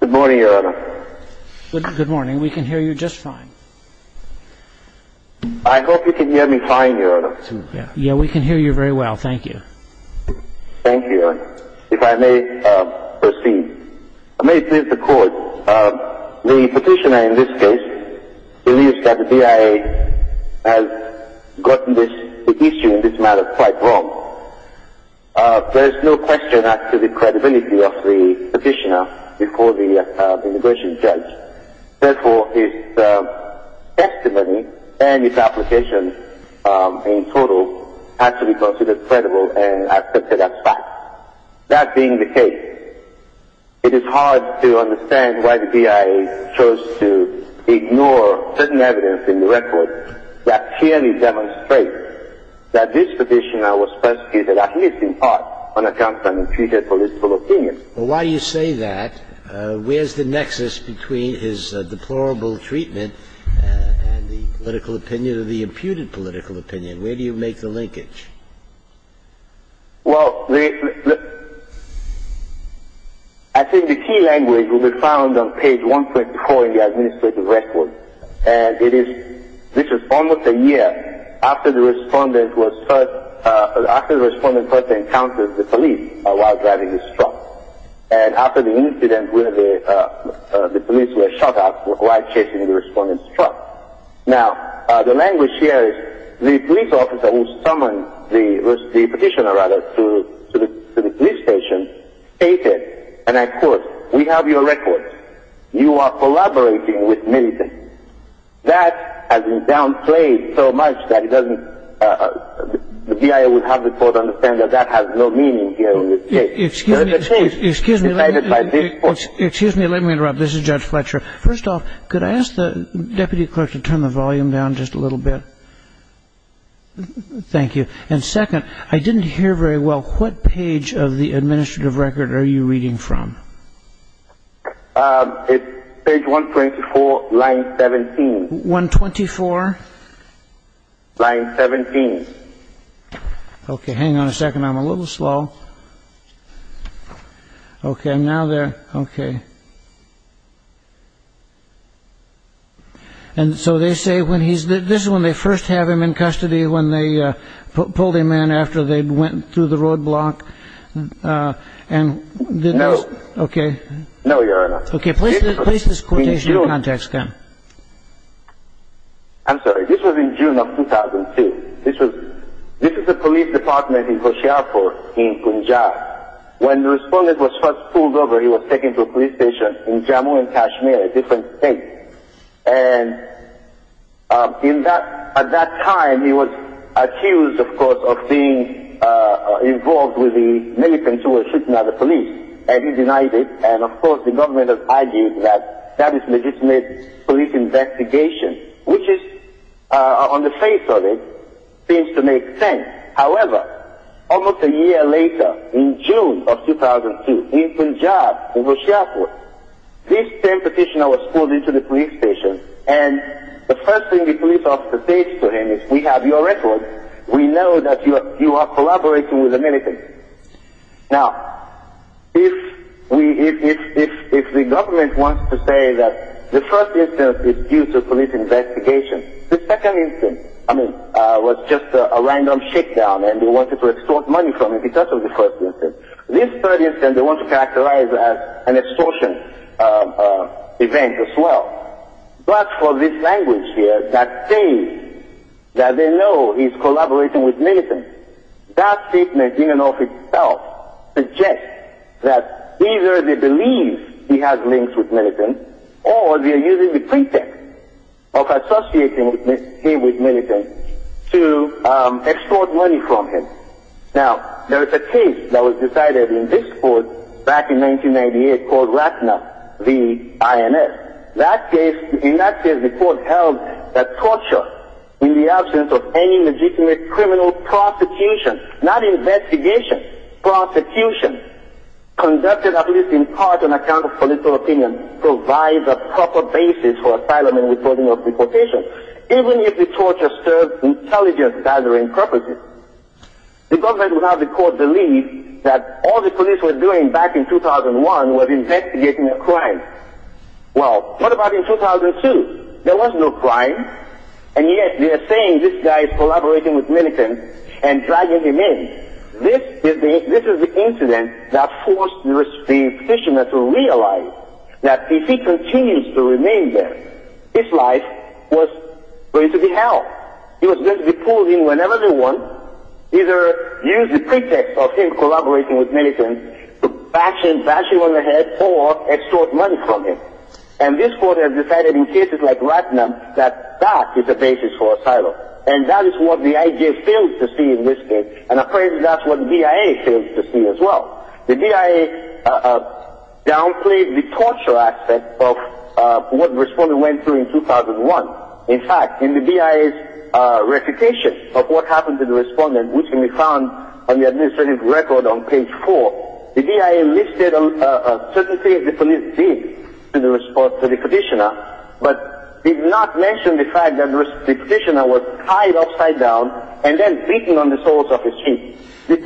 Good morning, Your Honor. Good morning. We can hear you just fine. I hope you can hear me fine, Your Honor. Yes, we can hear you very well. Thank you. Thank you, Your Honor. If I may proceed. I may plead the court. The petitioner in this case believes that the DIA has gotten the issue in this matter quite wrong. There is no question as to the credibility of the petitioner before the immigration judge. Therefore, his testimony and his application in total has to be considered credible and accepted as fact. That being the case, it is hard to understand why the DIA chose to ignore certain evidence in the record that clearly demonstrates that this petitioner was persecuted, at least in part, on account of an imputed political opinion. Well, why do you say that? Where is the nexus between his deplorable treatment and the political opinion or the imputed political opinion? Where do you make the linkage? Well, I think the key language will be found on page 1.4 in the administrative record. And this is almost a year after the respondent first encountered the police while driving his truck. And after the incident, the police were shot at while chasing the respondent's truck. Now, the language here is the police officer who summoned the petitioner to the police station stated, and I quote, we have your record. You are collaborating with many things. That has been downplayed so much that the DIA would have the court understand that that has no meaning here. Excuse me. Let me interrupt. This is Judge Fletcher. First off, could I ask the deputy clerk to turn the volume down just a little bit? Thank you. And second, I didn't hear very well. What page of the administrative record are you reading from? It's page 124, line 17. 124? Line 17. Okay. Hang on a second. I'm a little slow. Okay. I'm now there. Okay. And so they say when he's, this is when they first have him in custody, when they pulled him in after they went through the roadblock. No. Okay. No, Your Honor. Okay. Place this quotation in context then. I'm sorry. This was in June of 2002. This is the police department in Hoshiarpur in Punjab. When the respondent was first pulled over, he was taken to a police station in Jammu and Kashmir. A different state. And at that time he was accused, of course, of being involved with the militants who were shooting at the police, and he denied it. And, of course, the government has argued that that is a legitimate police investigation, which is, on the face of it, seems to make sense. However, almost a year later, in June of 2002, in Punjab, in Hoshiarpur, this same petitioner was pulled into the police station, and the first thing the police officer says to him is, We have your record. We know that you are collaborating with the militants. Now, if the government wants to say that the first instance is due to police investigation, the second instance, I mean, was just a random shakedown, and they wanted to extort money from him because of the first instance. This third instance they want to characterize as an extortion event as well. But for this language here, that they know he's collaborating with militants, that statement in and of itself suggests that either they believe he has links with militants, or they're using the pretext of associating him with militants to extort money from him. Now, there is a case that was decided in this court back in 1998 called Ratna v. INS. In that case, the court held that torture, in the absence of any legitimate criminal prosecution, not investigation, prosecution, conducted at least in part on account of political opinion, provides a proper basis for asylum and reporting of deportation, even if the torture served intelligence gathering purposes. The government would have the court believe that all the police were doing back in 2001 was investigating a crime. Well, what about in 2002? There was no crime, and yet they are saying this guy is collaborating with militants and dragging him in. This is the incident that forced the petitioner to realize that if he continues to remain there, his life was going to be hell. He was going to be pulled in whenever they want, either use the pretext of him collaborating with militants to bash him on the head or extort money from him. And this court has decided in cases like Ratna that that is the basis for asylum, and that is what the IJ failed to see in this case, and I'm afraid that's what the DIA failed to see as well. The DIA downplayed the torture aspect of what the respondent went through in 2001. In fact, in the DIA's reputation of what happened to the respondent, which can be found on the administrative record on page four, the DIA listed certain things the police did to the petitioner, but did not mention the fact that the petitioner was tied upside down and then beaten on the soles of his feet.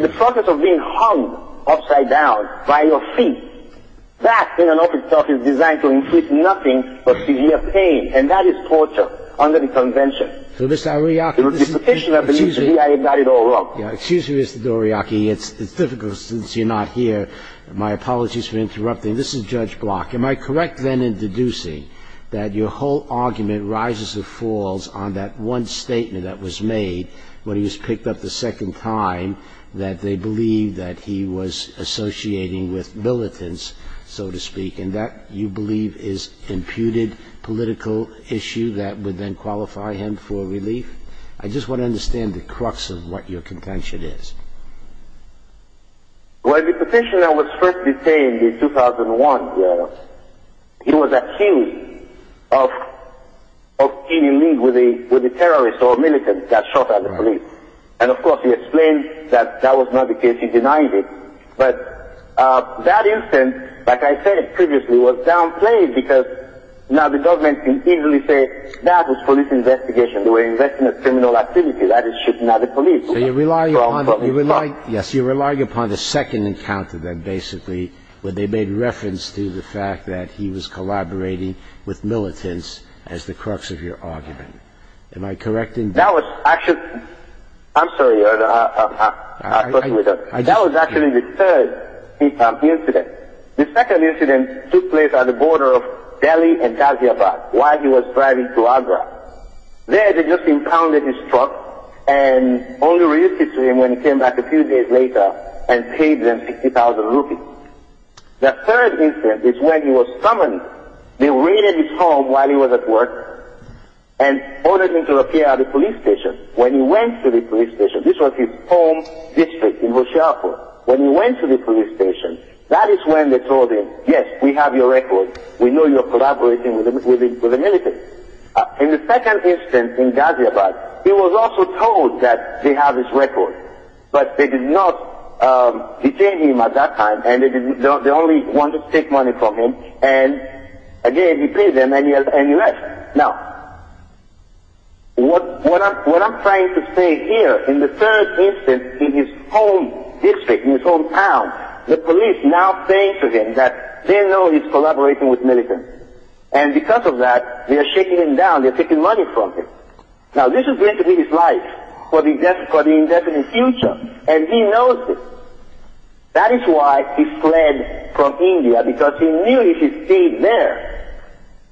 The process of being hung upside down by your feet, that in and of itself is designed to increase nothing but severe pain, and that is torture under the convention. So, Mr. Ariaki, excuse me. The petitioner believes the DIA got it all wrong. Excuse me, Mr. Doriaki. It's difficult since you're not here. My apologies for interrupting. This is Judge Block. Am I correct then in deducing that your whole argument rises or falls on that one statement that was made when he was picked up the second time that they believe that he was associating with militants, so to speak, and that you believe is an imputed political issue that would then qualify him for relief? I just want to understand the crux of what your contention is. Well, the petitioner was first detained in 2001. He was accused of being in league with a terrorist or a militant that shot at the police. And, of course, he explained that that was not the case. He denied it. But that incident, like I said previously, was downplayed because now the government can easily say that was police investigation. They were investigating a criminal activity that is shooting at the police. Yes, you're relying upon the second encounter then, basically, where they made reference to the fact that he was collaborating with militants as the crux of your argument. Am I correct in that? That was actually the third incident. The second incident took place at the border of Delhi and Hyderabad while he was driving to Agra. There, they just impounded his truck and only released it to him when he came back a few days later and paid them 60,000 rupees. The third incident is when he was summoned. They raided his home while he was at work and ordered him to appear at the police station. When he went to the police station, this was his home district in Rosharpur. When he went to the police station, that is when they told him, yes, we have your record. We know you're collaborating with the militants. In the second incident in Ghaziabad, he was also told that they have his record. But they did not detain him at that time and they only wanted to take money from him. And again, he paid them and he left. Now, what I'm trying to say here, in the third incident in his home district, in his hometown, the police now saying to him that they know he's collaborating with militants. And because of that, they are shaking him down. They are taking money from him. Now, this is going to be his life for the indefinite future. And he knows this. That is why he fled from India because he knew if he stayed there,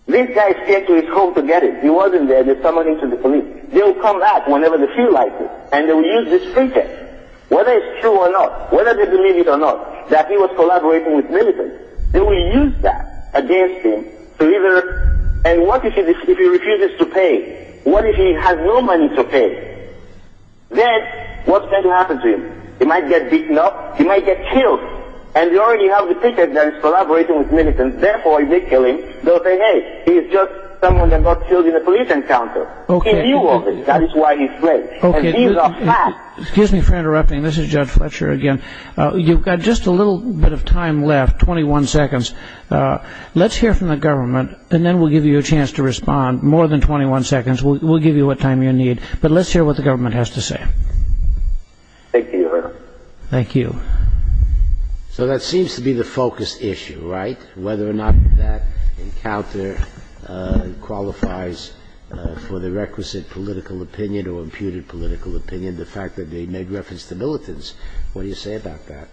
these guys came to his home to get him. He wasn't there. They summoned him to the police. They will come back whenever they feel like it. And they will use this pretext. Whether it's true or not, whether they believe it or not, that he was collaborating with militants, they will use that against him. And what if he refuses to pay? What if he has no money to pay? Then, what's going to happen to him? He might get beaten up. He might get killed. And they already have the picture that he's collaborating with militants. Therefore, they kill him. They'll say, hey, he's just someone that got killed in a police encounter. That is why he fled. Excuse me for interrupting. This is Judge Fletcher again. You've got just a little bit of time left. Twenty-one seconds. Let's hear from the government, and then we'll give you a chance to respond. More than 21 seconds. We'll give you what time you need. But let's hear what the government has to say. Thank you, Your Honor. Thank you. So that seems to be the focus issue, right, whether or not that encounter qualifies for the requisite political opinion or imputed political opinion, the fact that they made reference to militants. What do you say about that?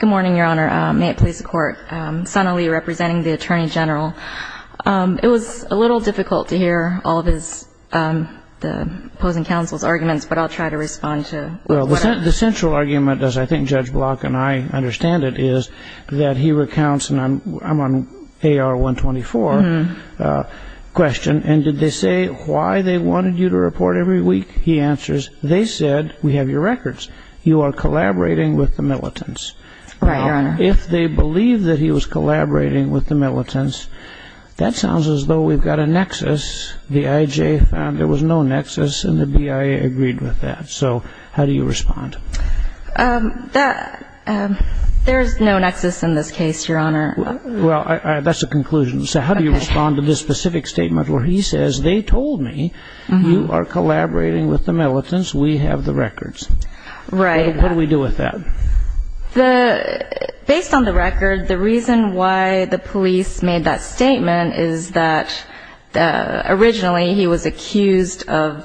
Good morning, Your Honor. May it please the Court. Sana Lee representing the Attorney General. It was a little difficult to hear all of the opposing counsel's arguments, but I'll try to respond to what I have. Well, the central argument, as I think Judge Block and I understand it, is that he recounts, and I'm on AR-124 question, and did they say why they wanted you to report every week? He answers, they said we have your records. You are collaborating with the militants. Right, Your Honor. Now, if they believe that he was collaborating with the militants, that sounds as though we've got a nexus. The IJ found there was no nexus, and the BIA agreed with that. So how do you respond? There is no nexus in this case, Your Honor. Well, that's a conclusion. So how do you respond to this specific statement where he says, you are collaborating with the militants, we have the records? Right. What do we do with that? Based on the record, the reason why the police made that statement is that originally he was accused of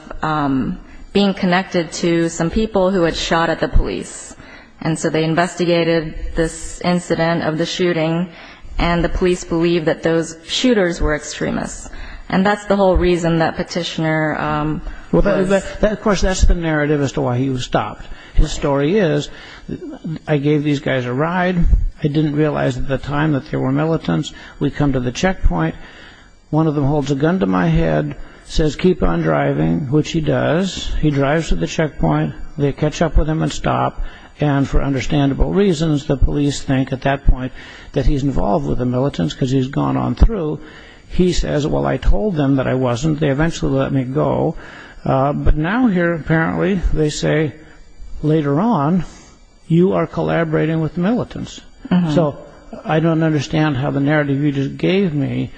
being connected to some people who had shot at the police, and so they investigated this incident of the shooting, and the police believed that those shooters were extremists. And that's the whole reason that petitioner was. Well, of course, that's the narrative as to why he was stopped. His story is, I gave these guys a ride. I didn't realize at the time that there were militants. We come to the checkpoint. One of them holds a gun to my head, says keep on driving, which he does. He drives to the checkpoint. They catch up with him and stop, and for understandable reasons, the police think at that point that he's involved with the militants because he's gone on through. He says, well, I told them that I wasn't. They eventually let me go. But now here apparently they say, later on, you are collaborating with militants. So I don't understand how the narrative you just gave me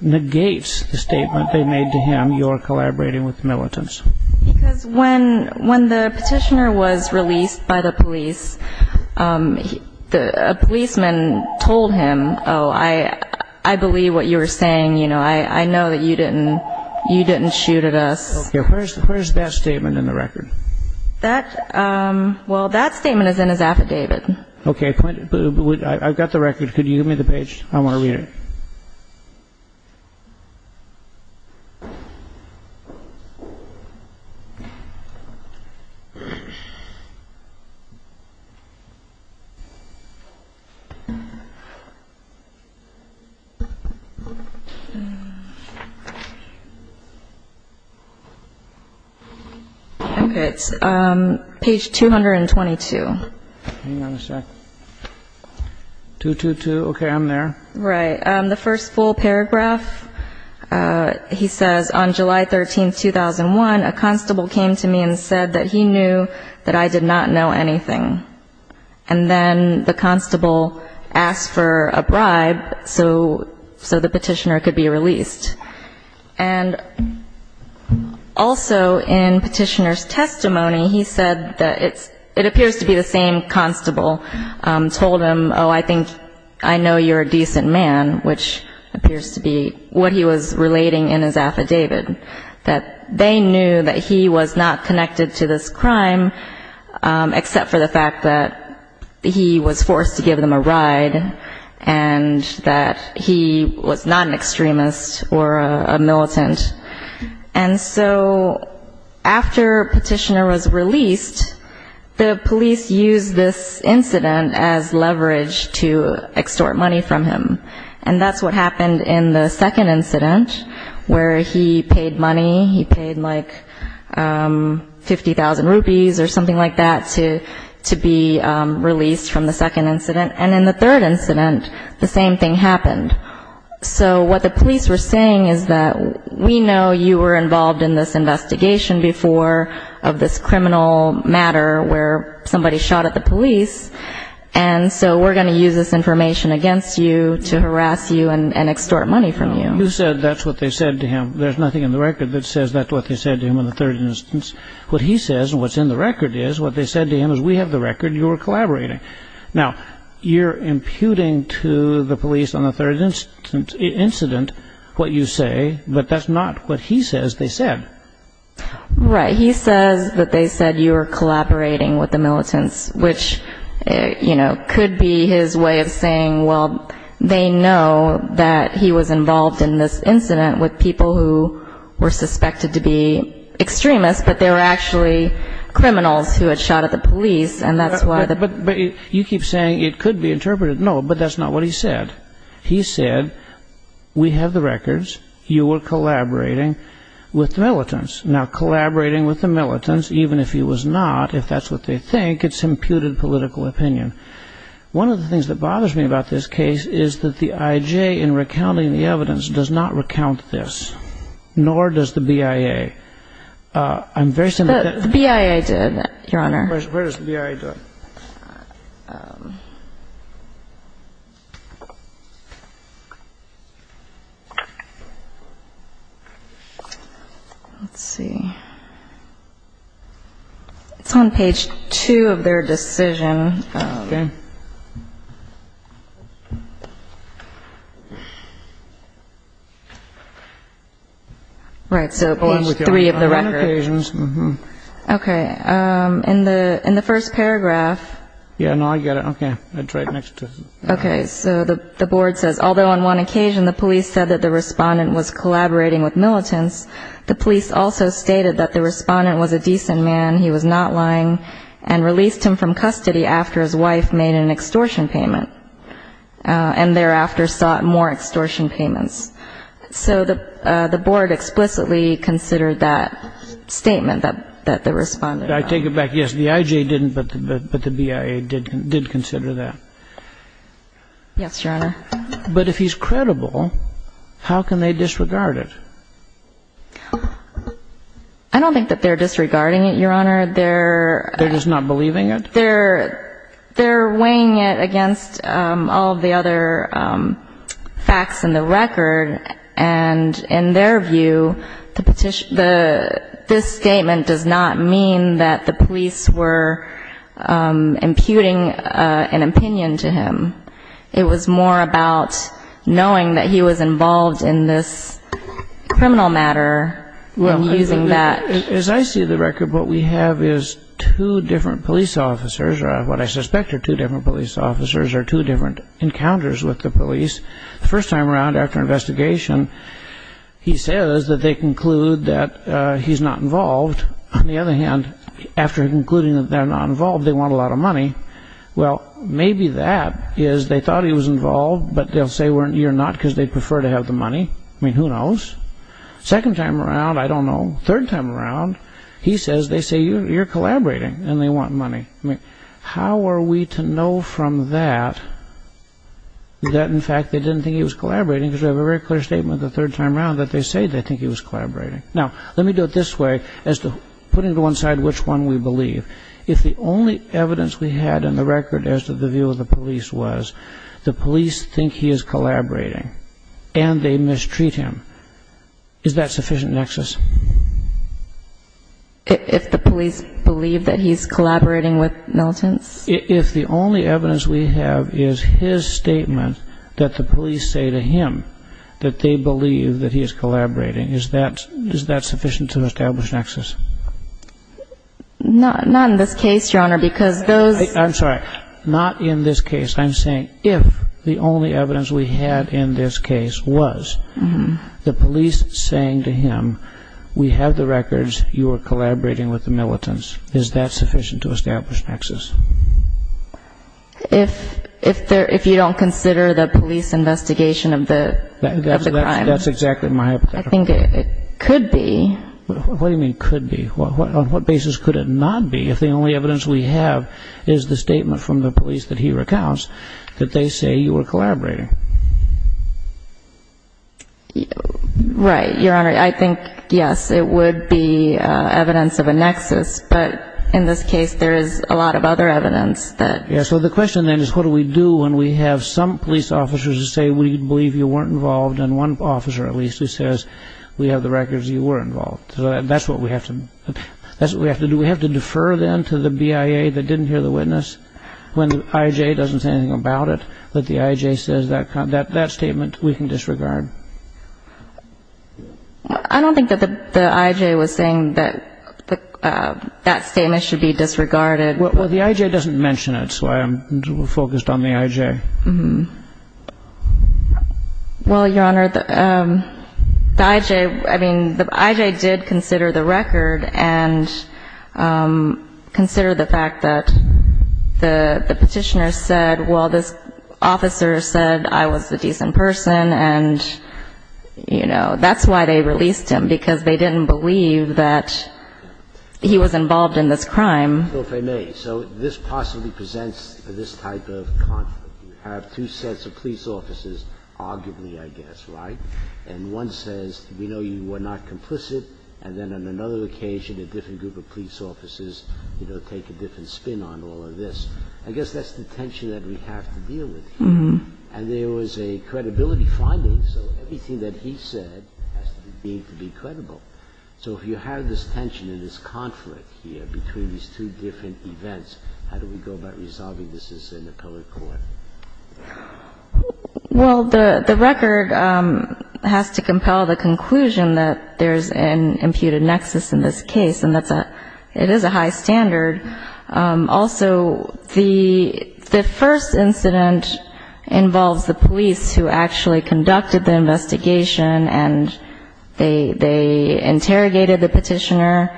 negates the statement they made to him, you are collaborating with militants. Because when the petitioner was released by the police, a policeman told him, oh, I believe what you were saying. I know that you didn't shoot at us. Okay. Where is that statement in the record? Well, that statement is in his affidavit. Okay. I've got the record. Could you give me the page? I want to read it. Okay. It's page 222. Hang on a sec. 222. Okay. I'm there. Right. The first full paragraph, he says, on July 13th, 2001, a constable came to me and said that he knew that I did not know anything. And then the constable asked for a bribe so the petitioner could be released. And also in petitioner's testimony, he said that it appears to be the same constable told him, oh, I think I know you're a decent man, which appears to be what he was relating in his affidavit, that they knew that he was not connected to this crime, except for the fact that he was forced to give them a ride and that he was not an extremist or a militant. And so after petitioner was released, the police used this incident as leverage to extort money from him. And that's what happened in the second incident where he paid money. He paid like 50,000 rupees or something like that to be released from the second incident. And in the third incident, the same thing happened. So what the police were saying is that we know you were involved in this investigation before of this criminal matter where somebody shot at the police, and so we're going to use this information against you to harass you and extort money from you. You said that's what they said to him. There's nothing in the record that says that's what they said to him in the third instance. What he says and what's in the record is what they said to him is we have the record and you were collaborating. Now, you're imputing to the police on the third incident what you say, but that's not what he says they said. Right. He says that they said you were collaborating with the militants, which, you know, could be his way of saying, well, they know that he was involved in this incident with people who were suspected to be extremists, but they were actually criminals who had shot at the police. But you keep saying it could be interpreted. No, but that's not what he said. He said we have the records. You were collaborating with the militants. Now, collaborating with the militants, even if he was not, if that's what they think, it's imputed political opinion. One of the things that bothers me about this case is that the IJ in recounting the evidence does not recount this, nor does the BIA. The BIA did, Your Honor. Where is the BIA? Let's see. It's on page two of their decision. OK. Right. OK. In the in the first paragraph. Yeah, no, I get it. OK. That's right. OK. So the board says, although on one occasion the police said that the respondent was collaborating with militants, the police also stated that the respondent was a decent man. He was not lying and released him from custody after his wife made an extortion payment and thereafter sought more extortion payments. So the board explicitly considered that statement that the respondent. I take it back. Yes, the IJ didn't. But the BIA did consider that. Yes, Your Honor. But if he's credible, how can they disregard it? I don't think that they're disregarding it, Your Honor. They're. They're just not believing it? They're weighing it against all the other facts in the record. And in their view, the petition, the this statement does not mean that the police were imputing an opinion to him. It was more about knowing that he was involved in this criminal matter. Well, as I see the record, what we have is two different police officers. What I suspect are two different police officers or two different encounters with the police. The first time around after investigation, he says that they conclude that he's not involved. On the other hand, after concluding that they're not involved, they want a lot of money. Well, maybe that is they thought he was involved, but they'll say you're not because they prefer to have the money. I mean, who knows? Second time around, I don't know. Third time around, he says they say you're collaborating and they want money. I mean, how are we to know from that that in fact they didn't think he was collaborating because they have a very clear statement the third time around that they say they think he was collaborating. Now, let me do it this way as to putting to one side which one we believe. If the only evidence we had in the record as to the view of the police was the police think he is collaborating and they mistreat him, is that sufficient nexus? If the police believe that he's collaborating with militants? If the only evidence we have is his statement that the police say to him that they believe that he is collaborating, is that sufficient to establish nexus? Not in this case, Your Honor, because those. I'm sorry, not in this case. I'm saying if the only evidence we had in this case was the police saying to him we have the records, you are collaborating with the militants, is that sufficient to establish nexus? If you don't consider the police investigation of the crime. That's exactly my hypothetical. I think it could be. What do you mean could be? On what basis could it not be if the only evidence we have is the statement from the police that he recounts that they say you were collaborating? Right. Your Honor, I think, yes, it would be evidence of a nexus. But in this case, there is a lot of other evidence that. Yes. So the question then is what do we do when we have some police officers who say we believe you weren't involved and one officer at least who says we have the records you were involved. So that's what we have to do. We have to defer then to the BIA that didn't hear the witness when the IJ doesn't say anything about it, that the IJ says that statement we can disregard. I don't think that the IJ was saying that that statement should be disregarded. Well, the IJ doesn't mention it, so I'm focused on the IJ. Well, Your Honor, the IJ, I mean, the IJ did consider the record and consider the fact that the Petitioner said, well, this officer said I was a decent person and, you know, that's why they released him, because they didn't believe that he was involved in this crime. So if I may, so this possibly presents this type of conflict. You have two sets of police officers, arguably, I guess, right? And one says we know you were not complicit, and then on another occasion a different group of police officers, you know, take a different spin on all of this. I guess that's the tension that we have to deal with here. And there was a credibility finding, so everything that he said has to be credible. So if you have this tension and this conflict here between these two different events, how do we go about resolving this as an appellate court? Well, the record has to compel the conclusion that there's an imputed nexus in this case, and that's a – it is a high standard. Also, the first incident involves the police who actually conducted the investigation and they interrogated the Petitioner.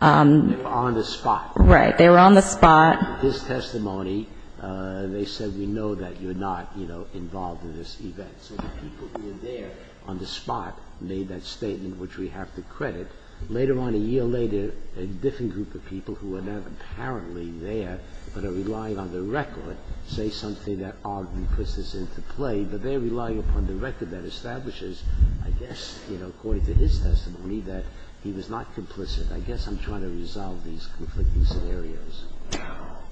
They were on the spot. Right. They were on the spot. This testimony, they said we know that you're not, you know, involved in this event. So the people who were there on the spot made that statement, which we have to credit. Later on, a year later, a different group of people who are now apparently there but are relying on the record say something that arguably puts this into play, but they're relying upon the record that establishes, I guess, you know, according to his testimony that he was not complicit. I guess I'm trying to resolve these conflicting scenarios.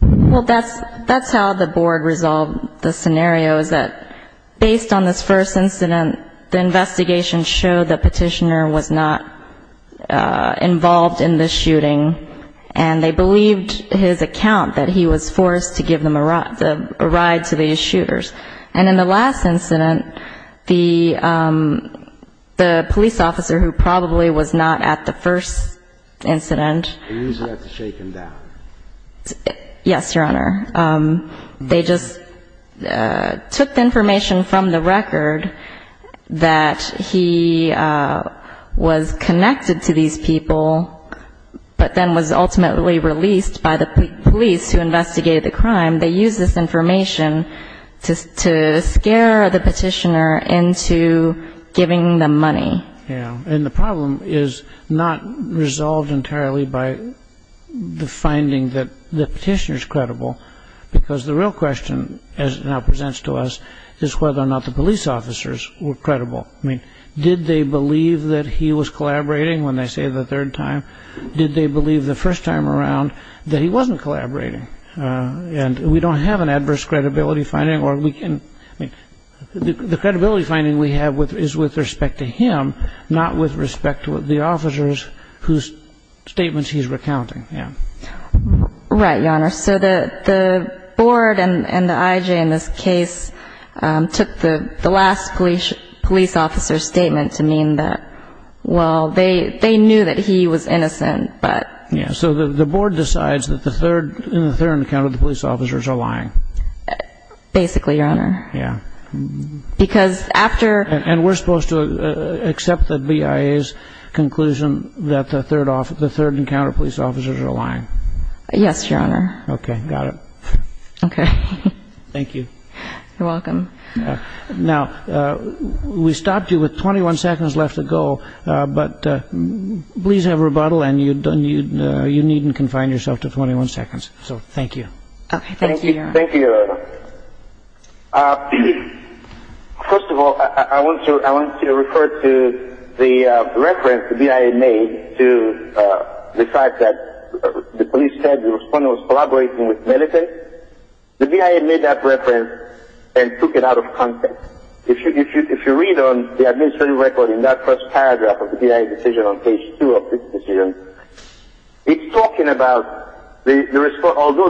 Well, that's how the board resolved the scenario, is that based on this first incident, the investigation showed the Petitioner was not involved in the shooting, and they believed his account that he was forced to give them a ride to these shooters. And in the last incident, the police officer who probably was not at the first incident. They used that to shake him down. Yes, Your Honor. They just took the information from the record that he was connected to these people but then was ultimately released by the police who investigated the crime. They used this information to scare the Petitioner into giving them money. Yeah, and the problem is not resolved entirely by the finding that the Petitioner is credible because the real question, as it now presents to us, is whether or not the police officers were credible. I mean, did they believe that he was collaborating when they say the third time? Did they believe the first time around that he wasn't collaborating? And we don't have an adverse credibility finding. The credibility finding we have is with respect to him, not with respect to the officers whose statements he's recounting. Right, Your Honor. So the board and the IJ in this case took the last police officer's statement to mean that, well, they knew that he was innocent. So the board decides that in the third encounter the police officers are lying. Basically, Your Honor. And we're supposed to accept the BIA's conclusion that the third encounter police officers are lying. Yes, Your Honor. Okay, got it. Okay. Thank you. You're welcome. Now, we stopped you with 21 seconds left to go, but please have rebuttal, and you needn't confine yourself to 21 seconds. So thank you. Okay, thank you, Your Honor. Thank you, Your Honor. First of all, I want to refer to the reference the BIA made to the fact that the police said the respondent was collaborating with medicine. The BIA made that reference and took it out of context. If you read on the administrative record in that first paragraph of the BIA's decision on page 2 of this decision, it's talking about although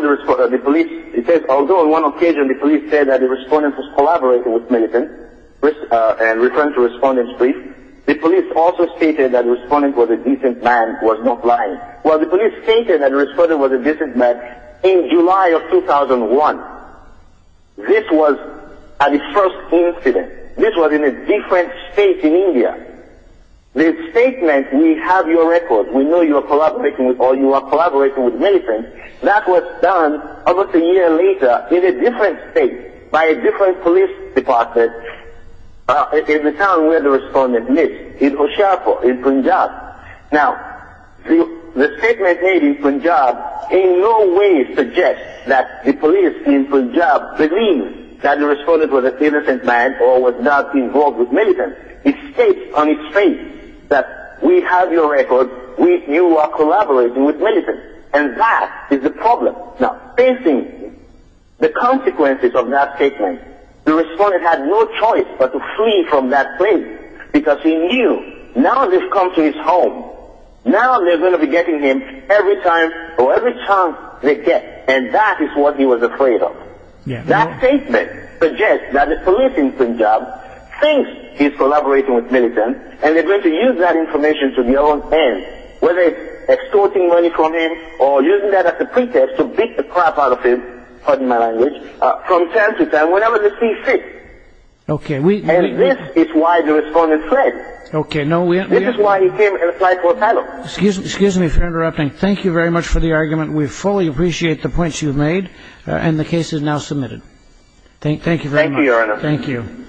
on one occasion the police said that the respondent was collaborating with medicine and referring to the respondent's brief, the police also stated that the respondent was a decent man who was not lying. Well, the police stated that the respondent was a decent man in July of 2001. This was at the first incident. This was in a different state in India. The statement, we have your record, we know you are collaborating with medicine, that was done almost a year later in a different state by a different police department in the town where the respondent lived, in Oshapo, in Punjab. Now, the statement made in Punjab in no way suggests that the police in Punjab believe that the respondent was a decent man or was not involved with medicine. It states on its face that we have your record, we know you are collaborating with medicine. And that is the problem. Now, facing the consequences of that statement, the respondent had no choice but to flee from that place because he knew, now they've come to his home, now they're going to be getting him every time or every chance they get. And that is what he was afraid of. That statement suggests that the police in Punjab think he's collaborating with medicine and they're going to use that information to their own end, whether it's extorting money from him or using that as a pretext to beat the crap out of him, pardon my language, from time to time, whenever they see fit. And this is why the respondent fled. This is why he came and applied for asylum. Excuse me for interrupting. Thank you very much for the argument. We fully appreciate the points you've made, and the case is now submitted. Thank you, Your Honor. Thank you.